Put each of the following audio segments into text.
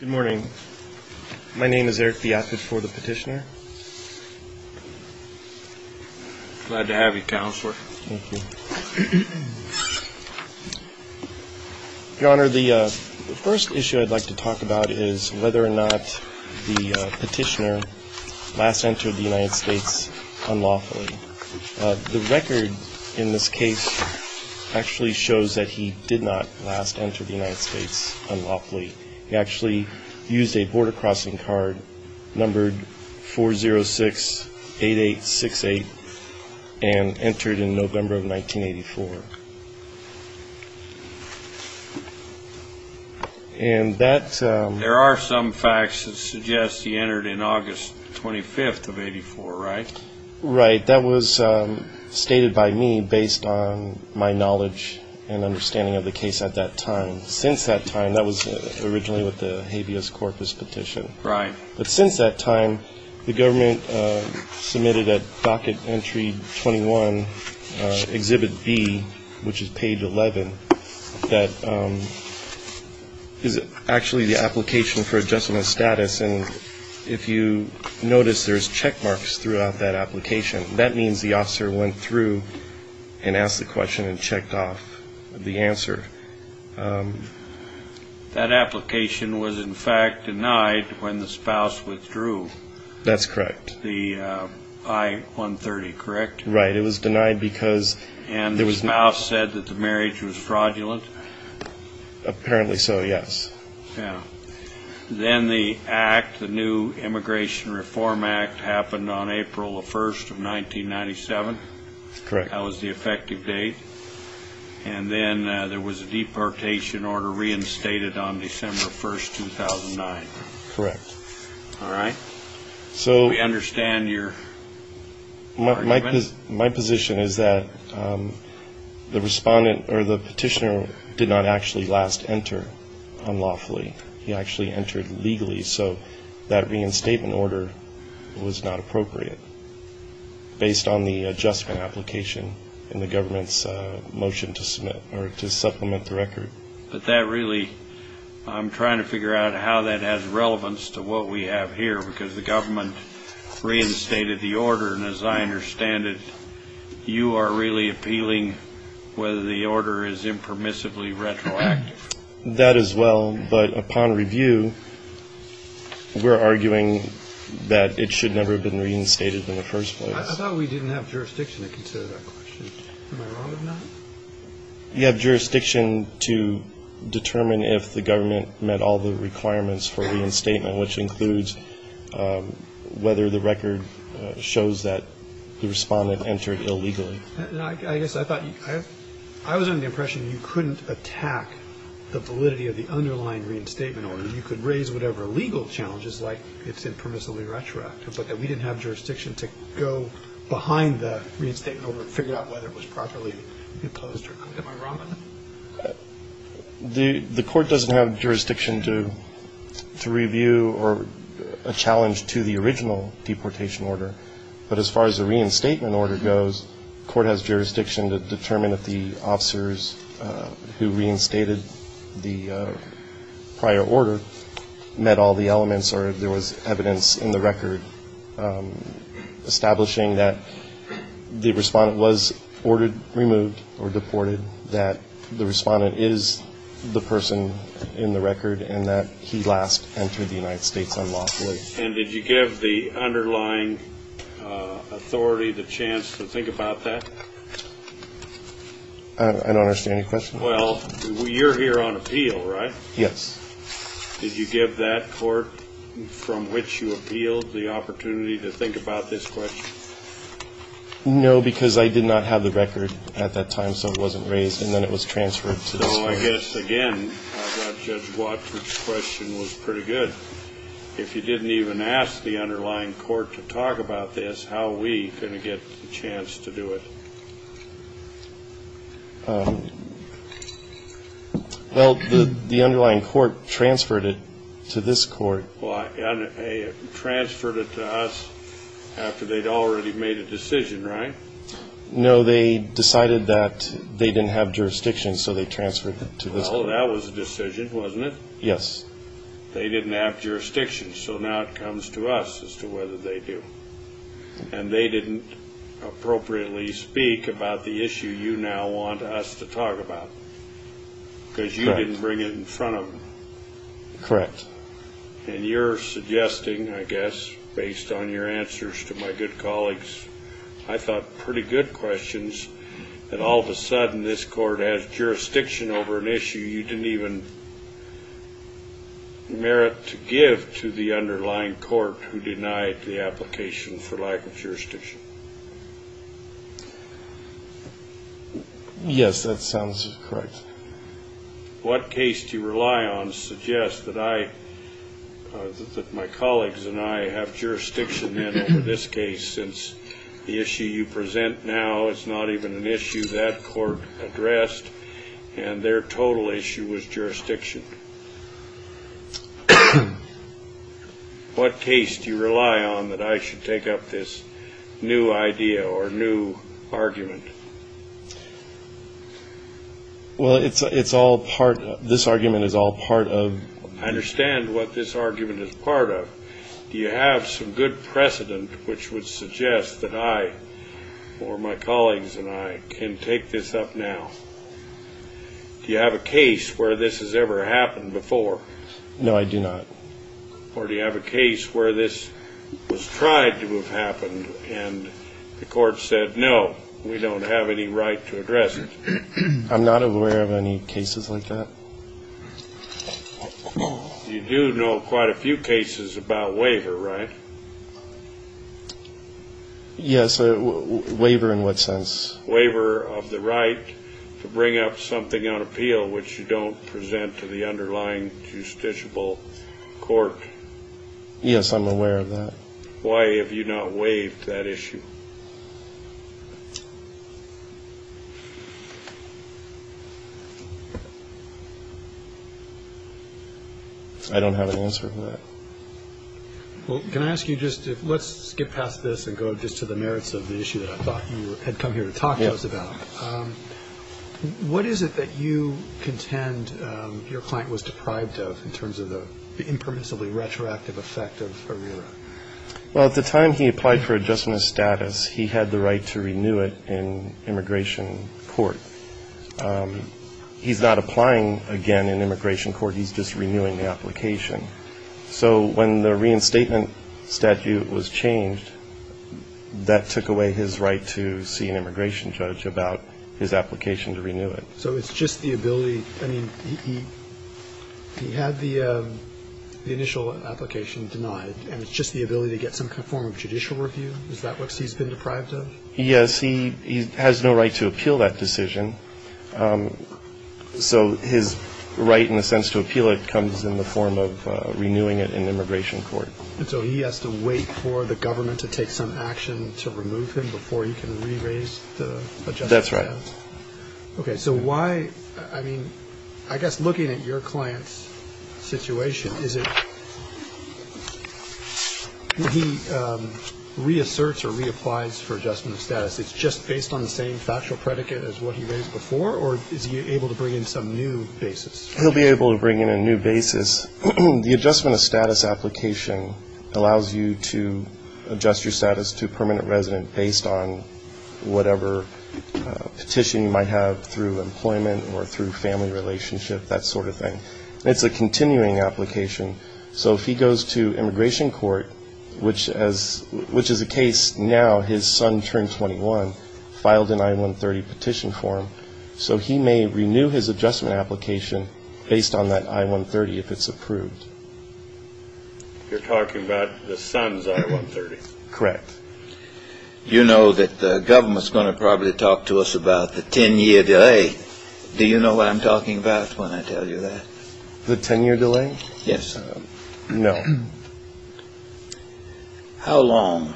Good morning. My name is Eric Biafid for the Petitioner. Glad to have you, Counselor. Thank you. Your Honor, the first issue I'd like to talk about is whether or not the Petitioner last entered the United States unlawfully. The record in this case actually shows that he did not last enter the United States unlawfully. He actually used a border-crossing card numbered 406-8868 and entered in November of 1984. And that... There are some facts that suggest he entered in August 25th of 84, right? Right. That was stated by me based on my knowledge and understanding of the case at that time. Since that time, that was originally with the habeas corpus petition. Right. But since that time, the government submitted at Docket Entry 21, Exhibit B, which is page 11, that is actually the application for adjustment of status. And if you notice, there's checkmarks throughout that application. That means the officer went through and asked the question and checked off the answer. That application was, in fact, denied when the spouse withdrew. That's correct. The I-130, correct? Right. It was denied because... Apparently so, yes. Yeah. Then the act, the new Immigration Reform Act, happened on April 1st of 1997. Correct. That was the effective date. And then there was a deportation order reinstated on December 1st, 2009. Correct. All right? So... We understand your argument. My position is that the respondent or the petitioner did not actually last enter unlawfully. He actually entered legally. So that reinstatement order was not appropriate based on the adjustment application in the government's motion to submit or to supplement the record. But that really, I'm trying to figure out how that has relevance to what we have here, because the government reinstated the order. And as I understand it, you are really appealing whether the order is impermissibly retroactive. That as well. But upon review, we're arguing that it should never have been reinstated in the first place. I thought we didn't have jurisdiction to consider that question. Am I wrong or not? You have jurisdiction to determine if the government met all the requirements for reinstatement, which includes whether the record shows that the respondent entered illegally. I guess I thought you ‑‑ I was under the impression you couldn't attack the validity of the underlying reinstatement order. You could raise whatever legal challenges, like it's impermissibly retroactive, but that we didn't have jurisdiction to go behind the reinstatement order and figure out whether it was properly imposed. Am I wrong on that? The court doesn't have jurisdiction to review a challenge to the original deportation order. But as far as the reinstatement order goes, the court has jurisdiction to determine if the officers who reinstated the prior order met all the elements or if there was evidence in the record establishing that the respondent was ordered, removed, or deported, that the respondent is the person in the record, and that he last entered the United States unlawfully. And did you give the underlying authority the chance to think about that? I don't understand your question. Well, you're here on appeal, right? Yes. Did you give that court from which you appealed the opportunity to think about this question? No, because I did not have the record at that time, so it wasn't raised, and then it was transferred to this court. Well, I guess, again, Judge Watford's question was pretty good. If you didn't even ask the underlying court to talk about this, how are we going to get a chance to do it? Well, the underlying court transferred it to this court. Transferred it to us after they'd already made a decision, right? No, they decided that they didn't have jurisdiction, so they transferred it to this court. Well, that was a decision, wasn't it? Yes. They didn't have jurisdiction, so now it comes to us as to whether they do. And they didn't appropriately speak about the issue you now want us to talk about, because you didn't bring it in front of them. Correct. And you're suggesting, I guess, based on your answers to my good colleagues, I thought pretty good questions, that all of a sudden this court has jurisdiction over an issue you didn't even merit to give to the underlying court who denied the application for lack of jurisdiction. Yes, that sounds correct. What case do you rely on suggests that my colleagues and I have jurisdiction then over this case, since the issue you present now is not even an issue that court addressed, and their total issue was jurisdiction? What case do you rely on that I should take up this new idea or new argument? Well, this argument is all part of... I understand what this argument is part of. Do you have some good precedent which would suggest that I or my colleagues and I can take this up now? Do you have a case where this has ever happened before? No, I do not. Or do you have a case where this was tried to have happened, and the court said, no, we don't have any right to address it? I'm not aware of any cases like that. You do know quite a few cases about waiver, right? Yes, waiver in what sense? Waiver of the right to bring up something on appeal which you don't present to the underlying justiciable court. Yes, I'm aware of that. Why have you not waived that issue? I don't have an answer for that. Well, can I ask you just to skip past this and go just to the merits of the issue that I thought you had come here to talk to us about? Yes. What is it that you contend your client was deprived of in terms of the impermissibly retroactive effect of ARERA? Well, at the time he applied for adjustment of status, he had the right to renew it in immigration court. He's not applying again in immigration court. He's just renewing the application. So when the reinstatement statute was changed, that took away his right to see an immigration judge about his application to renew it. So it's just the ability? I mean, he had the initial application denied, and it's just the ability to get some form of judicial review? Is that what he's been deprived of? Yes, he has no right to appeal that decision. So his right, in a sense, to appeal it comes in the form of renewing it in immigration court. And so he has to wait for the government to take some action to remove him before he can re-raise the adjustment of status? That's right. Okay. So why, I mean, I guess looking at your client's situation, it's just based on the same factual predicate as what he raised before, or is he able to bring in some new basis? He'll be able to bring in a new basis. The adjustment of status application allows you to adjust your status to permanent resident based on whatever petition you might have through employment or through family relationship, that sort of thing. It's a continuing application. So if he goes to immigration court, which is the case now, his son turned 21, filed an I-130 petition for him, so he may renew his adjustment application based on that I-130 if it's approved. You're talking about the son's I-130? Correct. You know that the government's going to probably talk to us about the 10-year delay. Do you know what I'm talking about when I tell you that? The 10-year delay? Yes. No. How long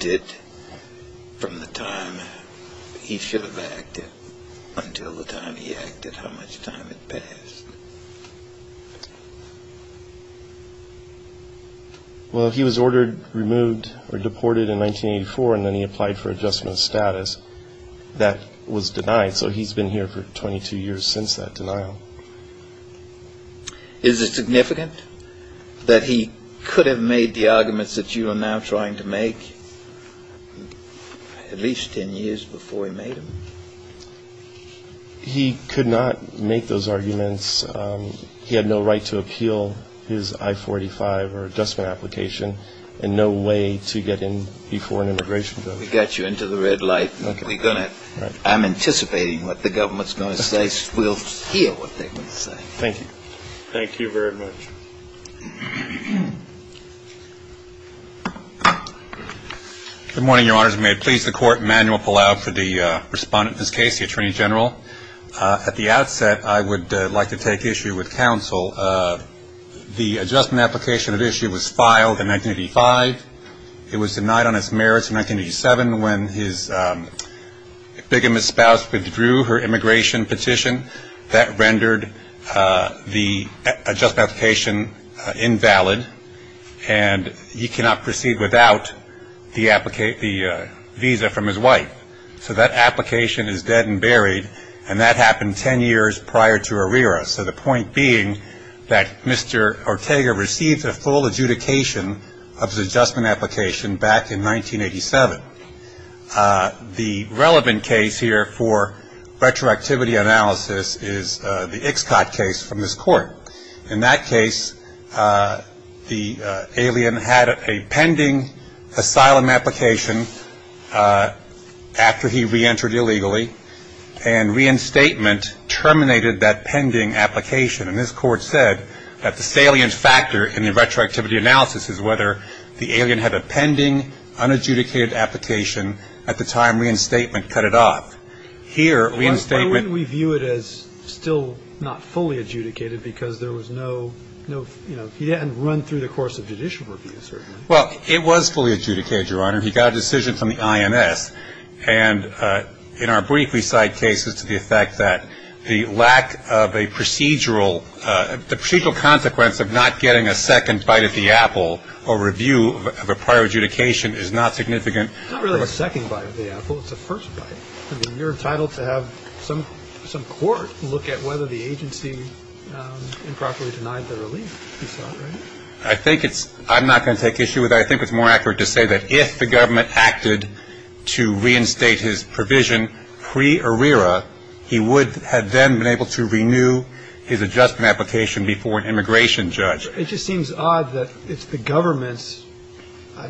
did, from the time he should have acted until the time he acted, how much time had passed? Well, he was ordered removed or deported in 1984, and then he applied for adjustment of status. That was denied, so he's been here for 22 years since that denial. Is it significant that he could have made the arguments that you are now trying to make, at least 10 years before he made them? He could not make those arguments. He had no right to appeal his I-485 or adjustment application and no way to get in before an immigration court. We got you into the red light. We're going to. I'm anticipating what the government's going to say. We'll hear what they're going to say. Thank you. Thank you very much. Good morning, Your Honors. May it please the Court, Emanuel Palau for the respondent of this case, the Attorney General. At the outset, I would like to take issue with counsel. The adjustment application at issue was filed in 1985. It was denied on its merits in 1987 when his bigamist spouse withdrew her immigration petition. That rendered the adjustment application invalid, and he cannot proceed without the visa from his wife. So that application is dead and buried, and that happened 10 years prior to Herrera. So the point being that Mr. Ortega received a full adjudication of his adjustment application back in 1987. The relevant case here for retroactivity analysis is the Ixcot case from this court. In that case, the alien had a pending asylum application after he reentered illegally, and reinstatement terminated that pending application. And this Court said that the salient factor in the retroactivity analysis is whether the alien had a pending, unadjudicated application at the time reinstatement cut it off. Here, reinstatement ---- Why wouldn't we view it as still not fully adjudicated because there was no, you know, he hadn't run through the course of judicial review, certainly. Well, it was fully adjudicated, Your Honor. He got a decision from the INS. And in our brief, we cite cases to the effect that the lack of a procedural consequence of not getting a second bite at the apple or review of a prior adjudication is not significant. It's not really a second bite at the apple. It's a first bite. I mean, you're entitled to have some court look at whether the agency improperly denied the relief. You saw that, right? I think it's ---- I'm not going to take issue with that. I think it's more accurate to say that if the government acted to reinstate his provision pre-Arrera, he would have then been able to renew his adjustment application before an immigration judge. It just seems odd that it's the government's ---- I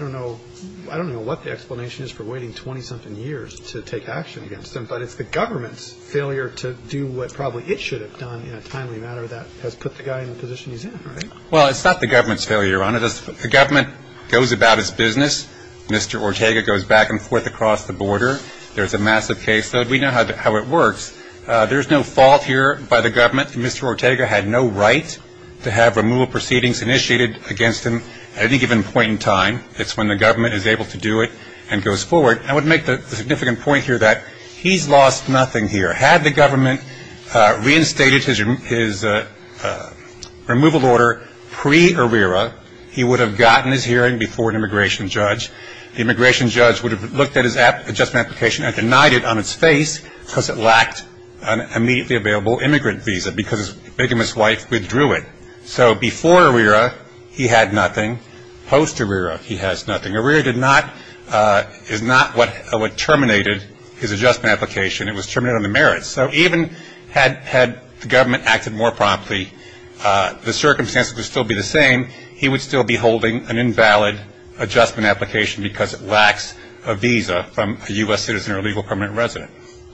don't know what the explanation is for waiting 20-something years to take action against him, but it's the government's failure to do what probably it should have done in a timely manner that has put the guy in the position he's in, right? Well, it's not the government's failure, Your Honor. The government goes about its business. Mr. Ortega goes back and forth across the border. There's a massive case. We know how it works. There's no fault here by the government. Mr. Ortega had no right to have removal proceedings initiated against him at any given point in time. It's when the government is able to do it and goes forward. I would make the significant point here that he's lost nothing here. Had the government reinstated his removal order pre-Arrera, he would have gotten his hearing before an immigration judge. The immigration judge would have looked at his adjustment application and denied it on its face because it lacked an immediately available immigrant visa because his bigamous wife withdrew it. So before Arrera, he had nothing. Post-Arrera, he has nothing. Arrera did not ---- is not what terminated his adjustment application. It was terminated on the merits. So even had the government acted more promptly, the circumstances would still be the same. He would still be holding an invalid adjustment application because it lacks a visa from a U.S. citizen or a legal permanent resident.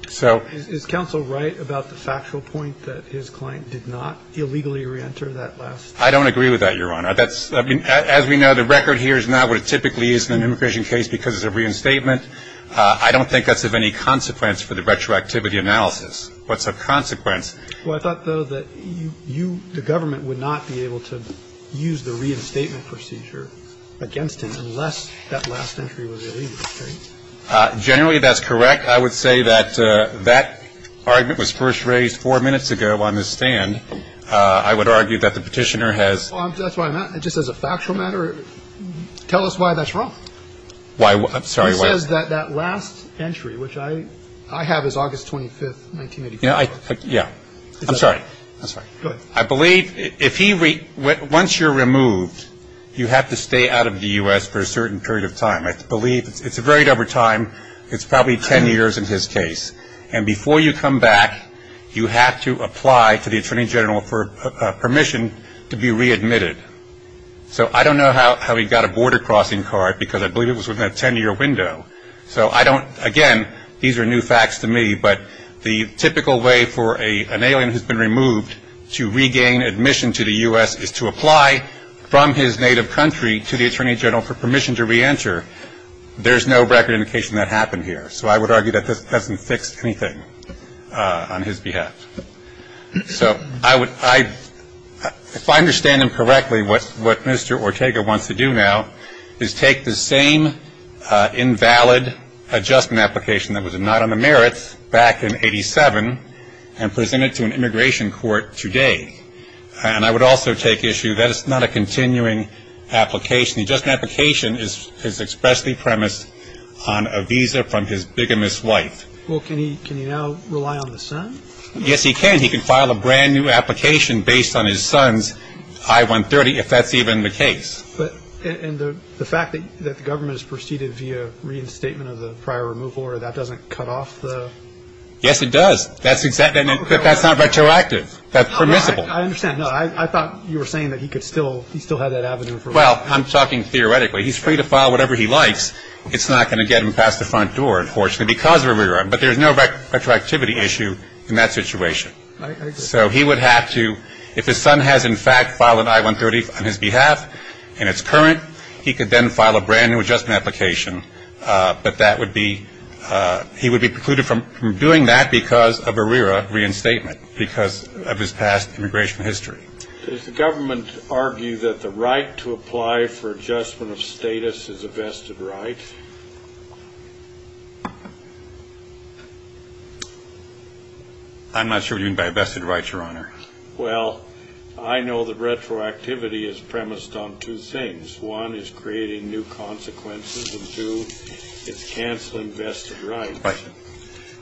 So ---- Is counsel right about the factual point that his client did not illegally reenter that last ---- I don't agree with that, Your Honor. That's ---- I mean, as we know, the record here is not what it typically is in an immigration case because it's a reinstatement. I don't think that's of any consequence for the retroactivity analysis. What's a consequence? Well, I thought, though, that you ---- the government would not be able to use the reinstatement procedure against him unless that last entry was illegal, right? Generally, that's correct. I would say that that argument was first raised four minutes ago on the stand. I would argue that the petitioner has ---- That's why I'm asking. Just as a factual matter, tell us why that's wrong. Why ---- I'm sorry. He says that that last entry, which I have, is August 25th, 1984. Yeah. I'm sorry. I'm sorry. Go ahead. I believe if he ---- once you're removed, you have to stay out of the U.S. for a certain period of time. I believe it's a very dubber time. It's probably 10 years in his case. And before you come back, you have to apply to the attorney general for permission to be readmitted. So I don't know how he got a border crossing card because I believe it was within a 10-year window. So I don't ---- again, these are new facts to me, but the typical way for an alien who's been removed to regain admission to the U.S. is to apply from his native country to the attorney general for permission to reenter. There's no record indication that happened here. So I would argue that this hasn't fixed anything on his behalf. So I would ---- if I understand him correctly, what Mr. Ortega wants to do now is take the same invalid adjustment application that was not on the merits back in 87 and present it to an immigration court today. And I would also take issue that it's not a continuing application. The adjustment application is expressly premised on a visa from his bigamous wife. Well, can he now rely on the son? Yes, he can. He can file a brand-new application based on his son's I-130 if that's even the case. And the fact that the government has proceeded via reinstatement of the prior removal order, that doesn't cut off the ---- Yes, it does. That's not retroactive. That's permissible. I understand. No, I thought you were saying that he could still ---- he still had that avenue for ---- Well, I'm talking theoretically. He's free to file whatever he likes. It's not going to get him past the front door, unfortunately, because of a rerun. But there's no retroactivity issue in that situation. So he would have to, if his son has in fact filed an I-130 on his behalf and it's current, he could then file a brand-new adjustment application. But that would be ---- he would be precluded from doing that because of a RERA reinstatement, because of his past immigration history. Does the government argue that the right to apply for adjustment of status is a vested right? I'm not sure what you mean by a vested right, Your Honor. Well, I know that retroactivity is premised on two things. One is creating new consequences, and two, it's canceling vested rights. Right.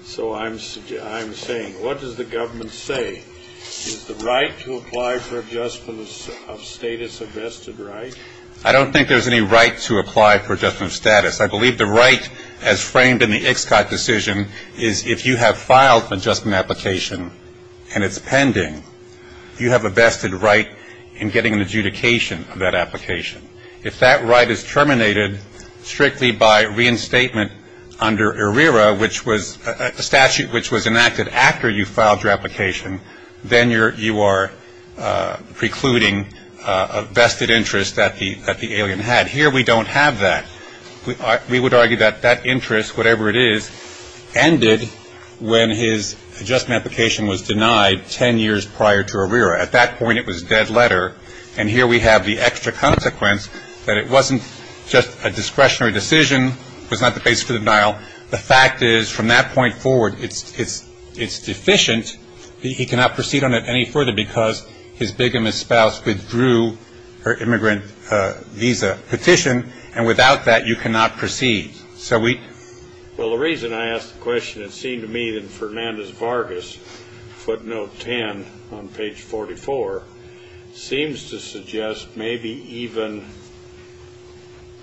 So I'm saying, what does the government say? Is the right to apply for adjustment of status a vested right? I don't think there's any right to apply for adjustment of status. I believe the right, as framed in the Ixcot decision, is if you have filed an adjustment application and it's pending, you have a vested right in getting an adjudication of that application. If that right is terminated strictly by reinstatement under RERA, which was a statute which was enacted after you filed your application, then you are precluding a vested interest that the alien had. Here, we don't have that. We would argue that that interest, whatever it is, ended when his adjustment application was denied ten years prior to RERA. At that point, it was a dead letter, and here we have the extra consequence that it wasn't just a discretionary decision, it was not the basis for the denial. The fact is, from that point forward, it's deficient. He cannot proceed on it any further because his bigamist spouse withdrew her immigrant visa petition, and without that, you cannot proceed. So we – Well, the reason I ask the question, it seemed to me that Fernandez Vargas, footnote 10 on page 44, seems to suggest maybe even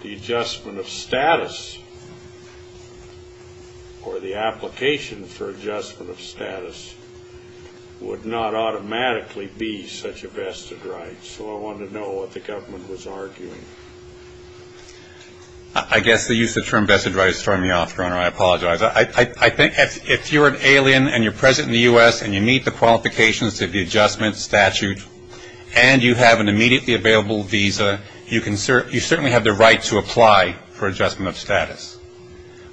the adjustment of status or the application for adjustment of status would not automatically be such a vested right. So I wanted to know what the government was arguing. I guess the use of the term vested right is throwing me off, Your Honor. I apologize. I think if you're an alien and you're present in the U.S. and you meet the qualifications of the adjustment statute and you have an immediately available visa, you certainly have the right to apply for adjustment of status.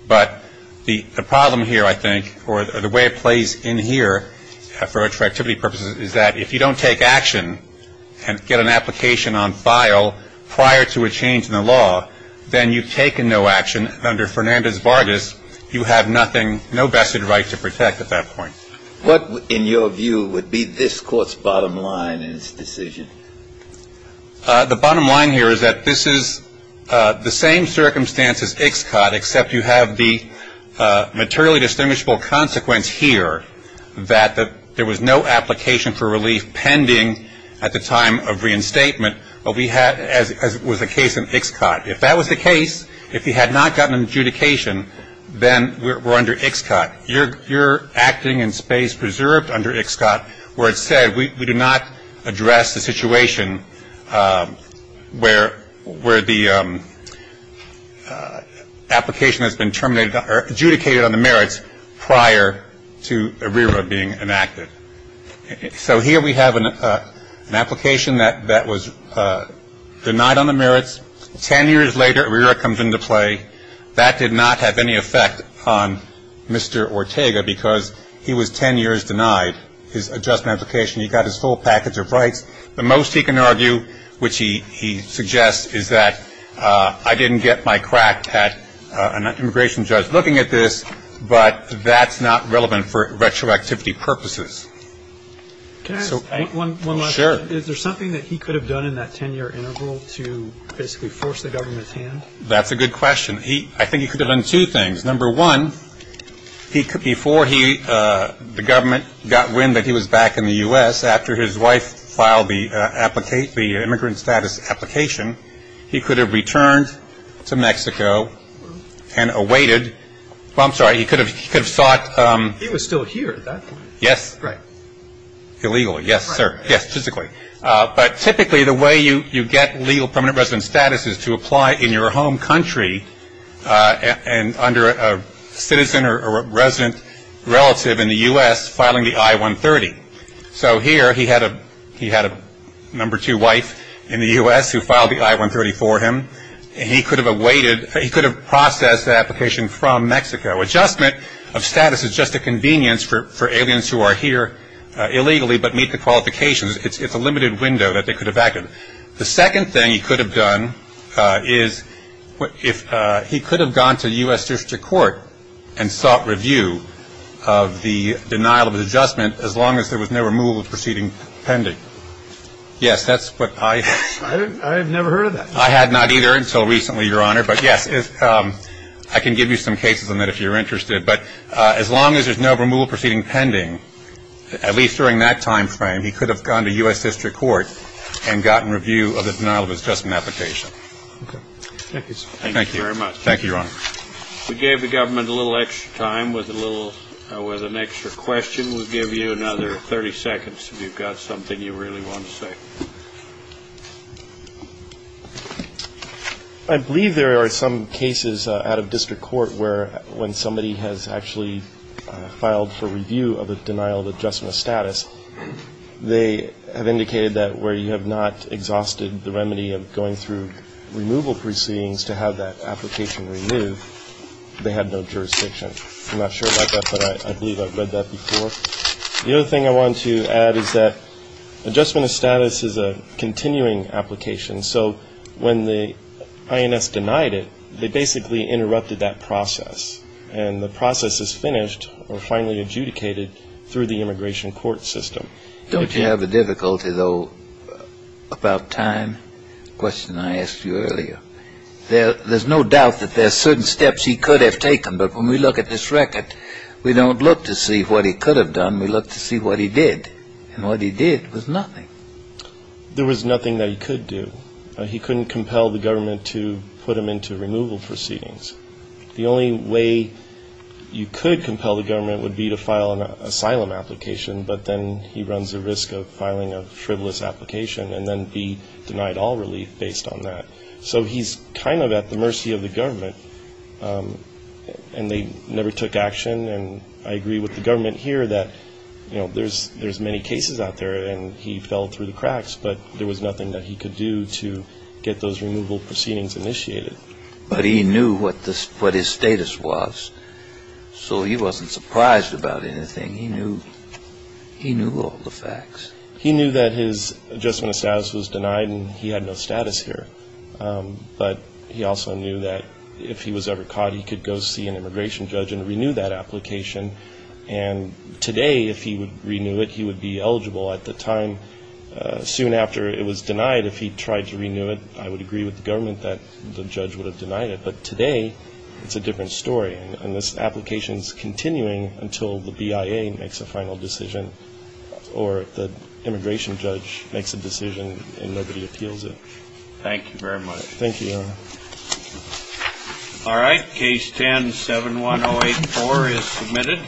But the problem here, I think, or the way it plays in here for attractivity purposes, is that if you don't take action and get an application on file prior to a change in the law, then you've taken no action. Under Fernandez Vargas, you have nothing – no vested right to protect at that point. What, in your view, would be this Court's bottom line in its decision? The bottom line here is that this is the same circumstance as Ixcot, except you have the materially distinguishable consequence here that there was no application for relief pending at the time of reinstatement, as was the case in Ixcot. If that was the case, if he had not gotten an adjudication, then we're under Ixcot. You're acting in space preserved under Ixcot where it said we do not address the situation where the application has been terminated or adjudicated on the merits prior to ARERA being enacted. So here we have an application that was denied on the merits. Ten years later, ARERA comes into play. That did not have any effect on Mr. Ortega because he was ten years denied his adjustment application. He got his full package of rights. The most he can argue, which he suggests, is that I didn't get my crack at an immigration judge looking at this, but that's not relevant for retroactivity purposes. Can I ask one last question? Sure. Is there something that he could have done in that ten-year interval to basically force the government's hand? That's a good question. I think he could have done two things. Number one, before the government got wind that he was back in the U.S., after his wife filed the immigrant status application, he could have returned to Mexico and awaited. Well, I'm sorry, he could have sought. He was still here at that point. Yes. Right. Illegally. Yes, sir. Yes, physically. But typically the way you get legal permanent resident status is to apply in your home country and under a citizen or a resident relative in the U.S. filing the I-130. So here he had a number two wife in the U.S. who filed the I-130 for him. He could have awaited. He could have processed the application from Mexico. Adjustment of status is just a convenience for aliens who are here illegally but meet the qualifications. It's a limited window that they could have acted. The second thing he could have done is he could have gone to U.S. district court and sought review of the denial of adjustment as long as there was no removal proceeding pending. Yes, that's what I have. I have never heard of that. I had not either until recently, Your Honor. But, yes, I can give you some cases on that if you're interested. But as long as there's no removal proceeding pending, at least during that time frame, he could have gone to U.S. district court and gotten review of the denial of adjustment application. Okay. Thank you very much. Thank you, Your Honor. We gave the government a little extra time with an extra question we'll give you, another 30 seconds if you've got something you really want to say. I believe there are some cases out of district court where when somebody has actually filed for review of the denial of adjustment status, they have indicated that where you have not exhausted the remedy of going through removal proceedings to have that application removed, they have no jurisdiction. I'm not sure about that, but I believe I've read that before. The other thing I want to add is that adjustment of status is a continuing application. So when the INS denied it, they basically interrupted that process. And the process is finished or finally adjudicated through the immigration court system. Don't you have a difficulty, though, about time? The question I asked you earlier. There's no doubt that there are certain steps he could have taken. But when we look at this record, we don't look to see what he could have done. We look to see what he did. And what he did was nothing. There was nothing that he could do. He couldn't compel the government to put him into removal proceedings. The only way you could compel the government would be to file an asylum application, but then he runs the risk of filing a frivolous application and then be denied all relief based on that. So he's kind of at the mercy of the government. And they never took action. And I agree with the government here that, you know, there's many cases out there. And he fell through the cracks. But there was nothing that he could do to get those removal proceedings initiated. But he knew what his status was. So he wasn't surprised about anything. He knew all the facts. He knew that his adjustment of status was denied and he had no status here. But he also knew that if he was ever caught, he could go see an immigration judge and renew that application. And today, if he would renew it, he would be eligible. At the time, soon after it was denied, if he tried to renew it, I would agree with the government that the judge would have denied it. But today, it's a different story. And this application is continuing until the BIA makes a final decision or the immigration judge makes a decision and nobody appeals it. Thank you very much. Thank you, Your Honor. All right. Case 10-71084 is submitted.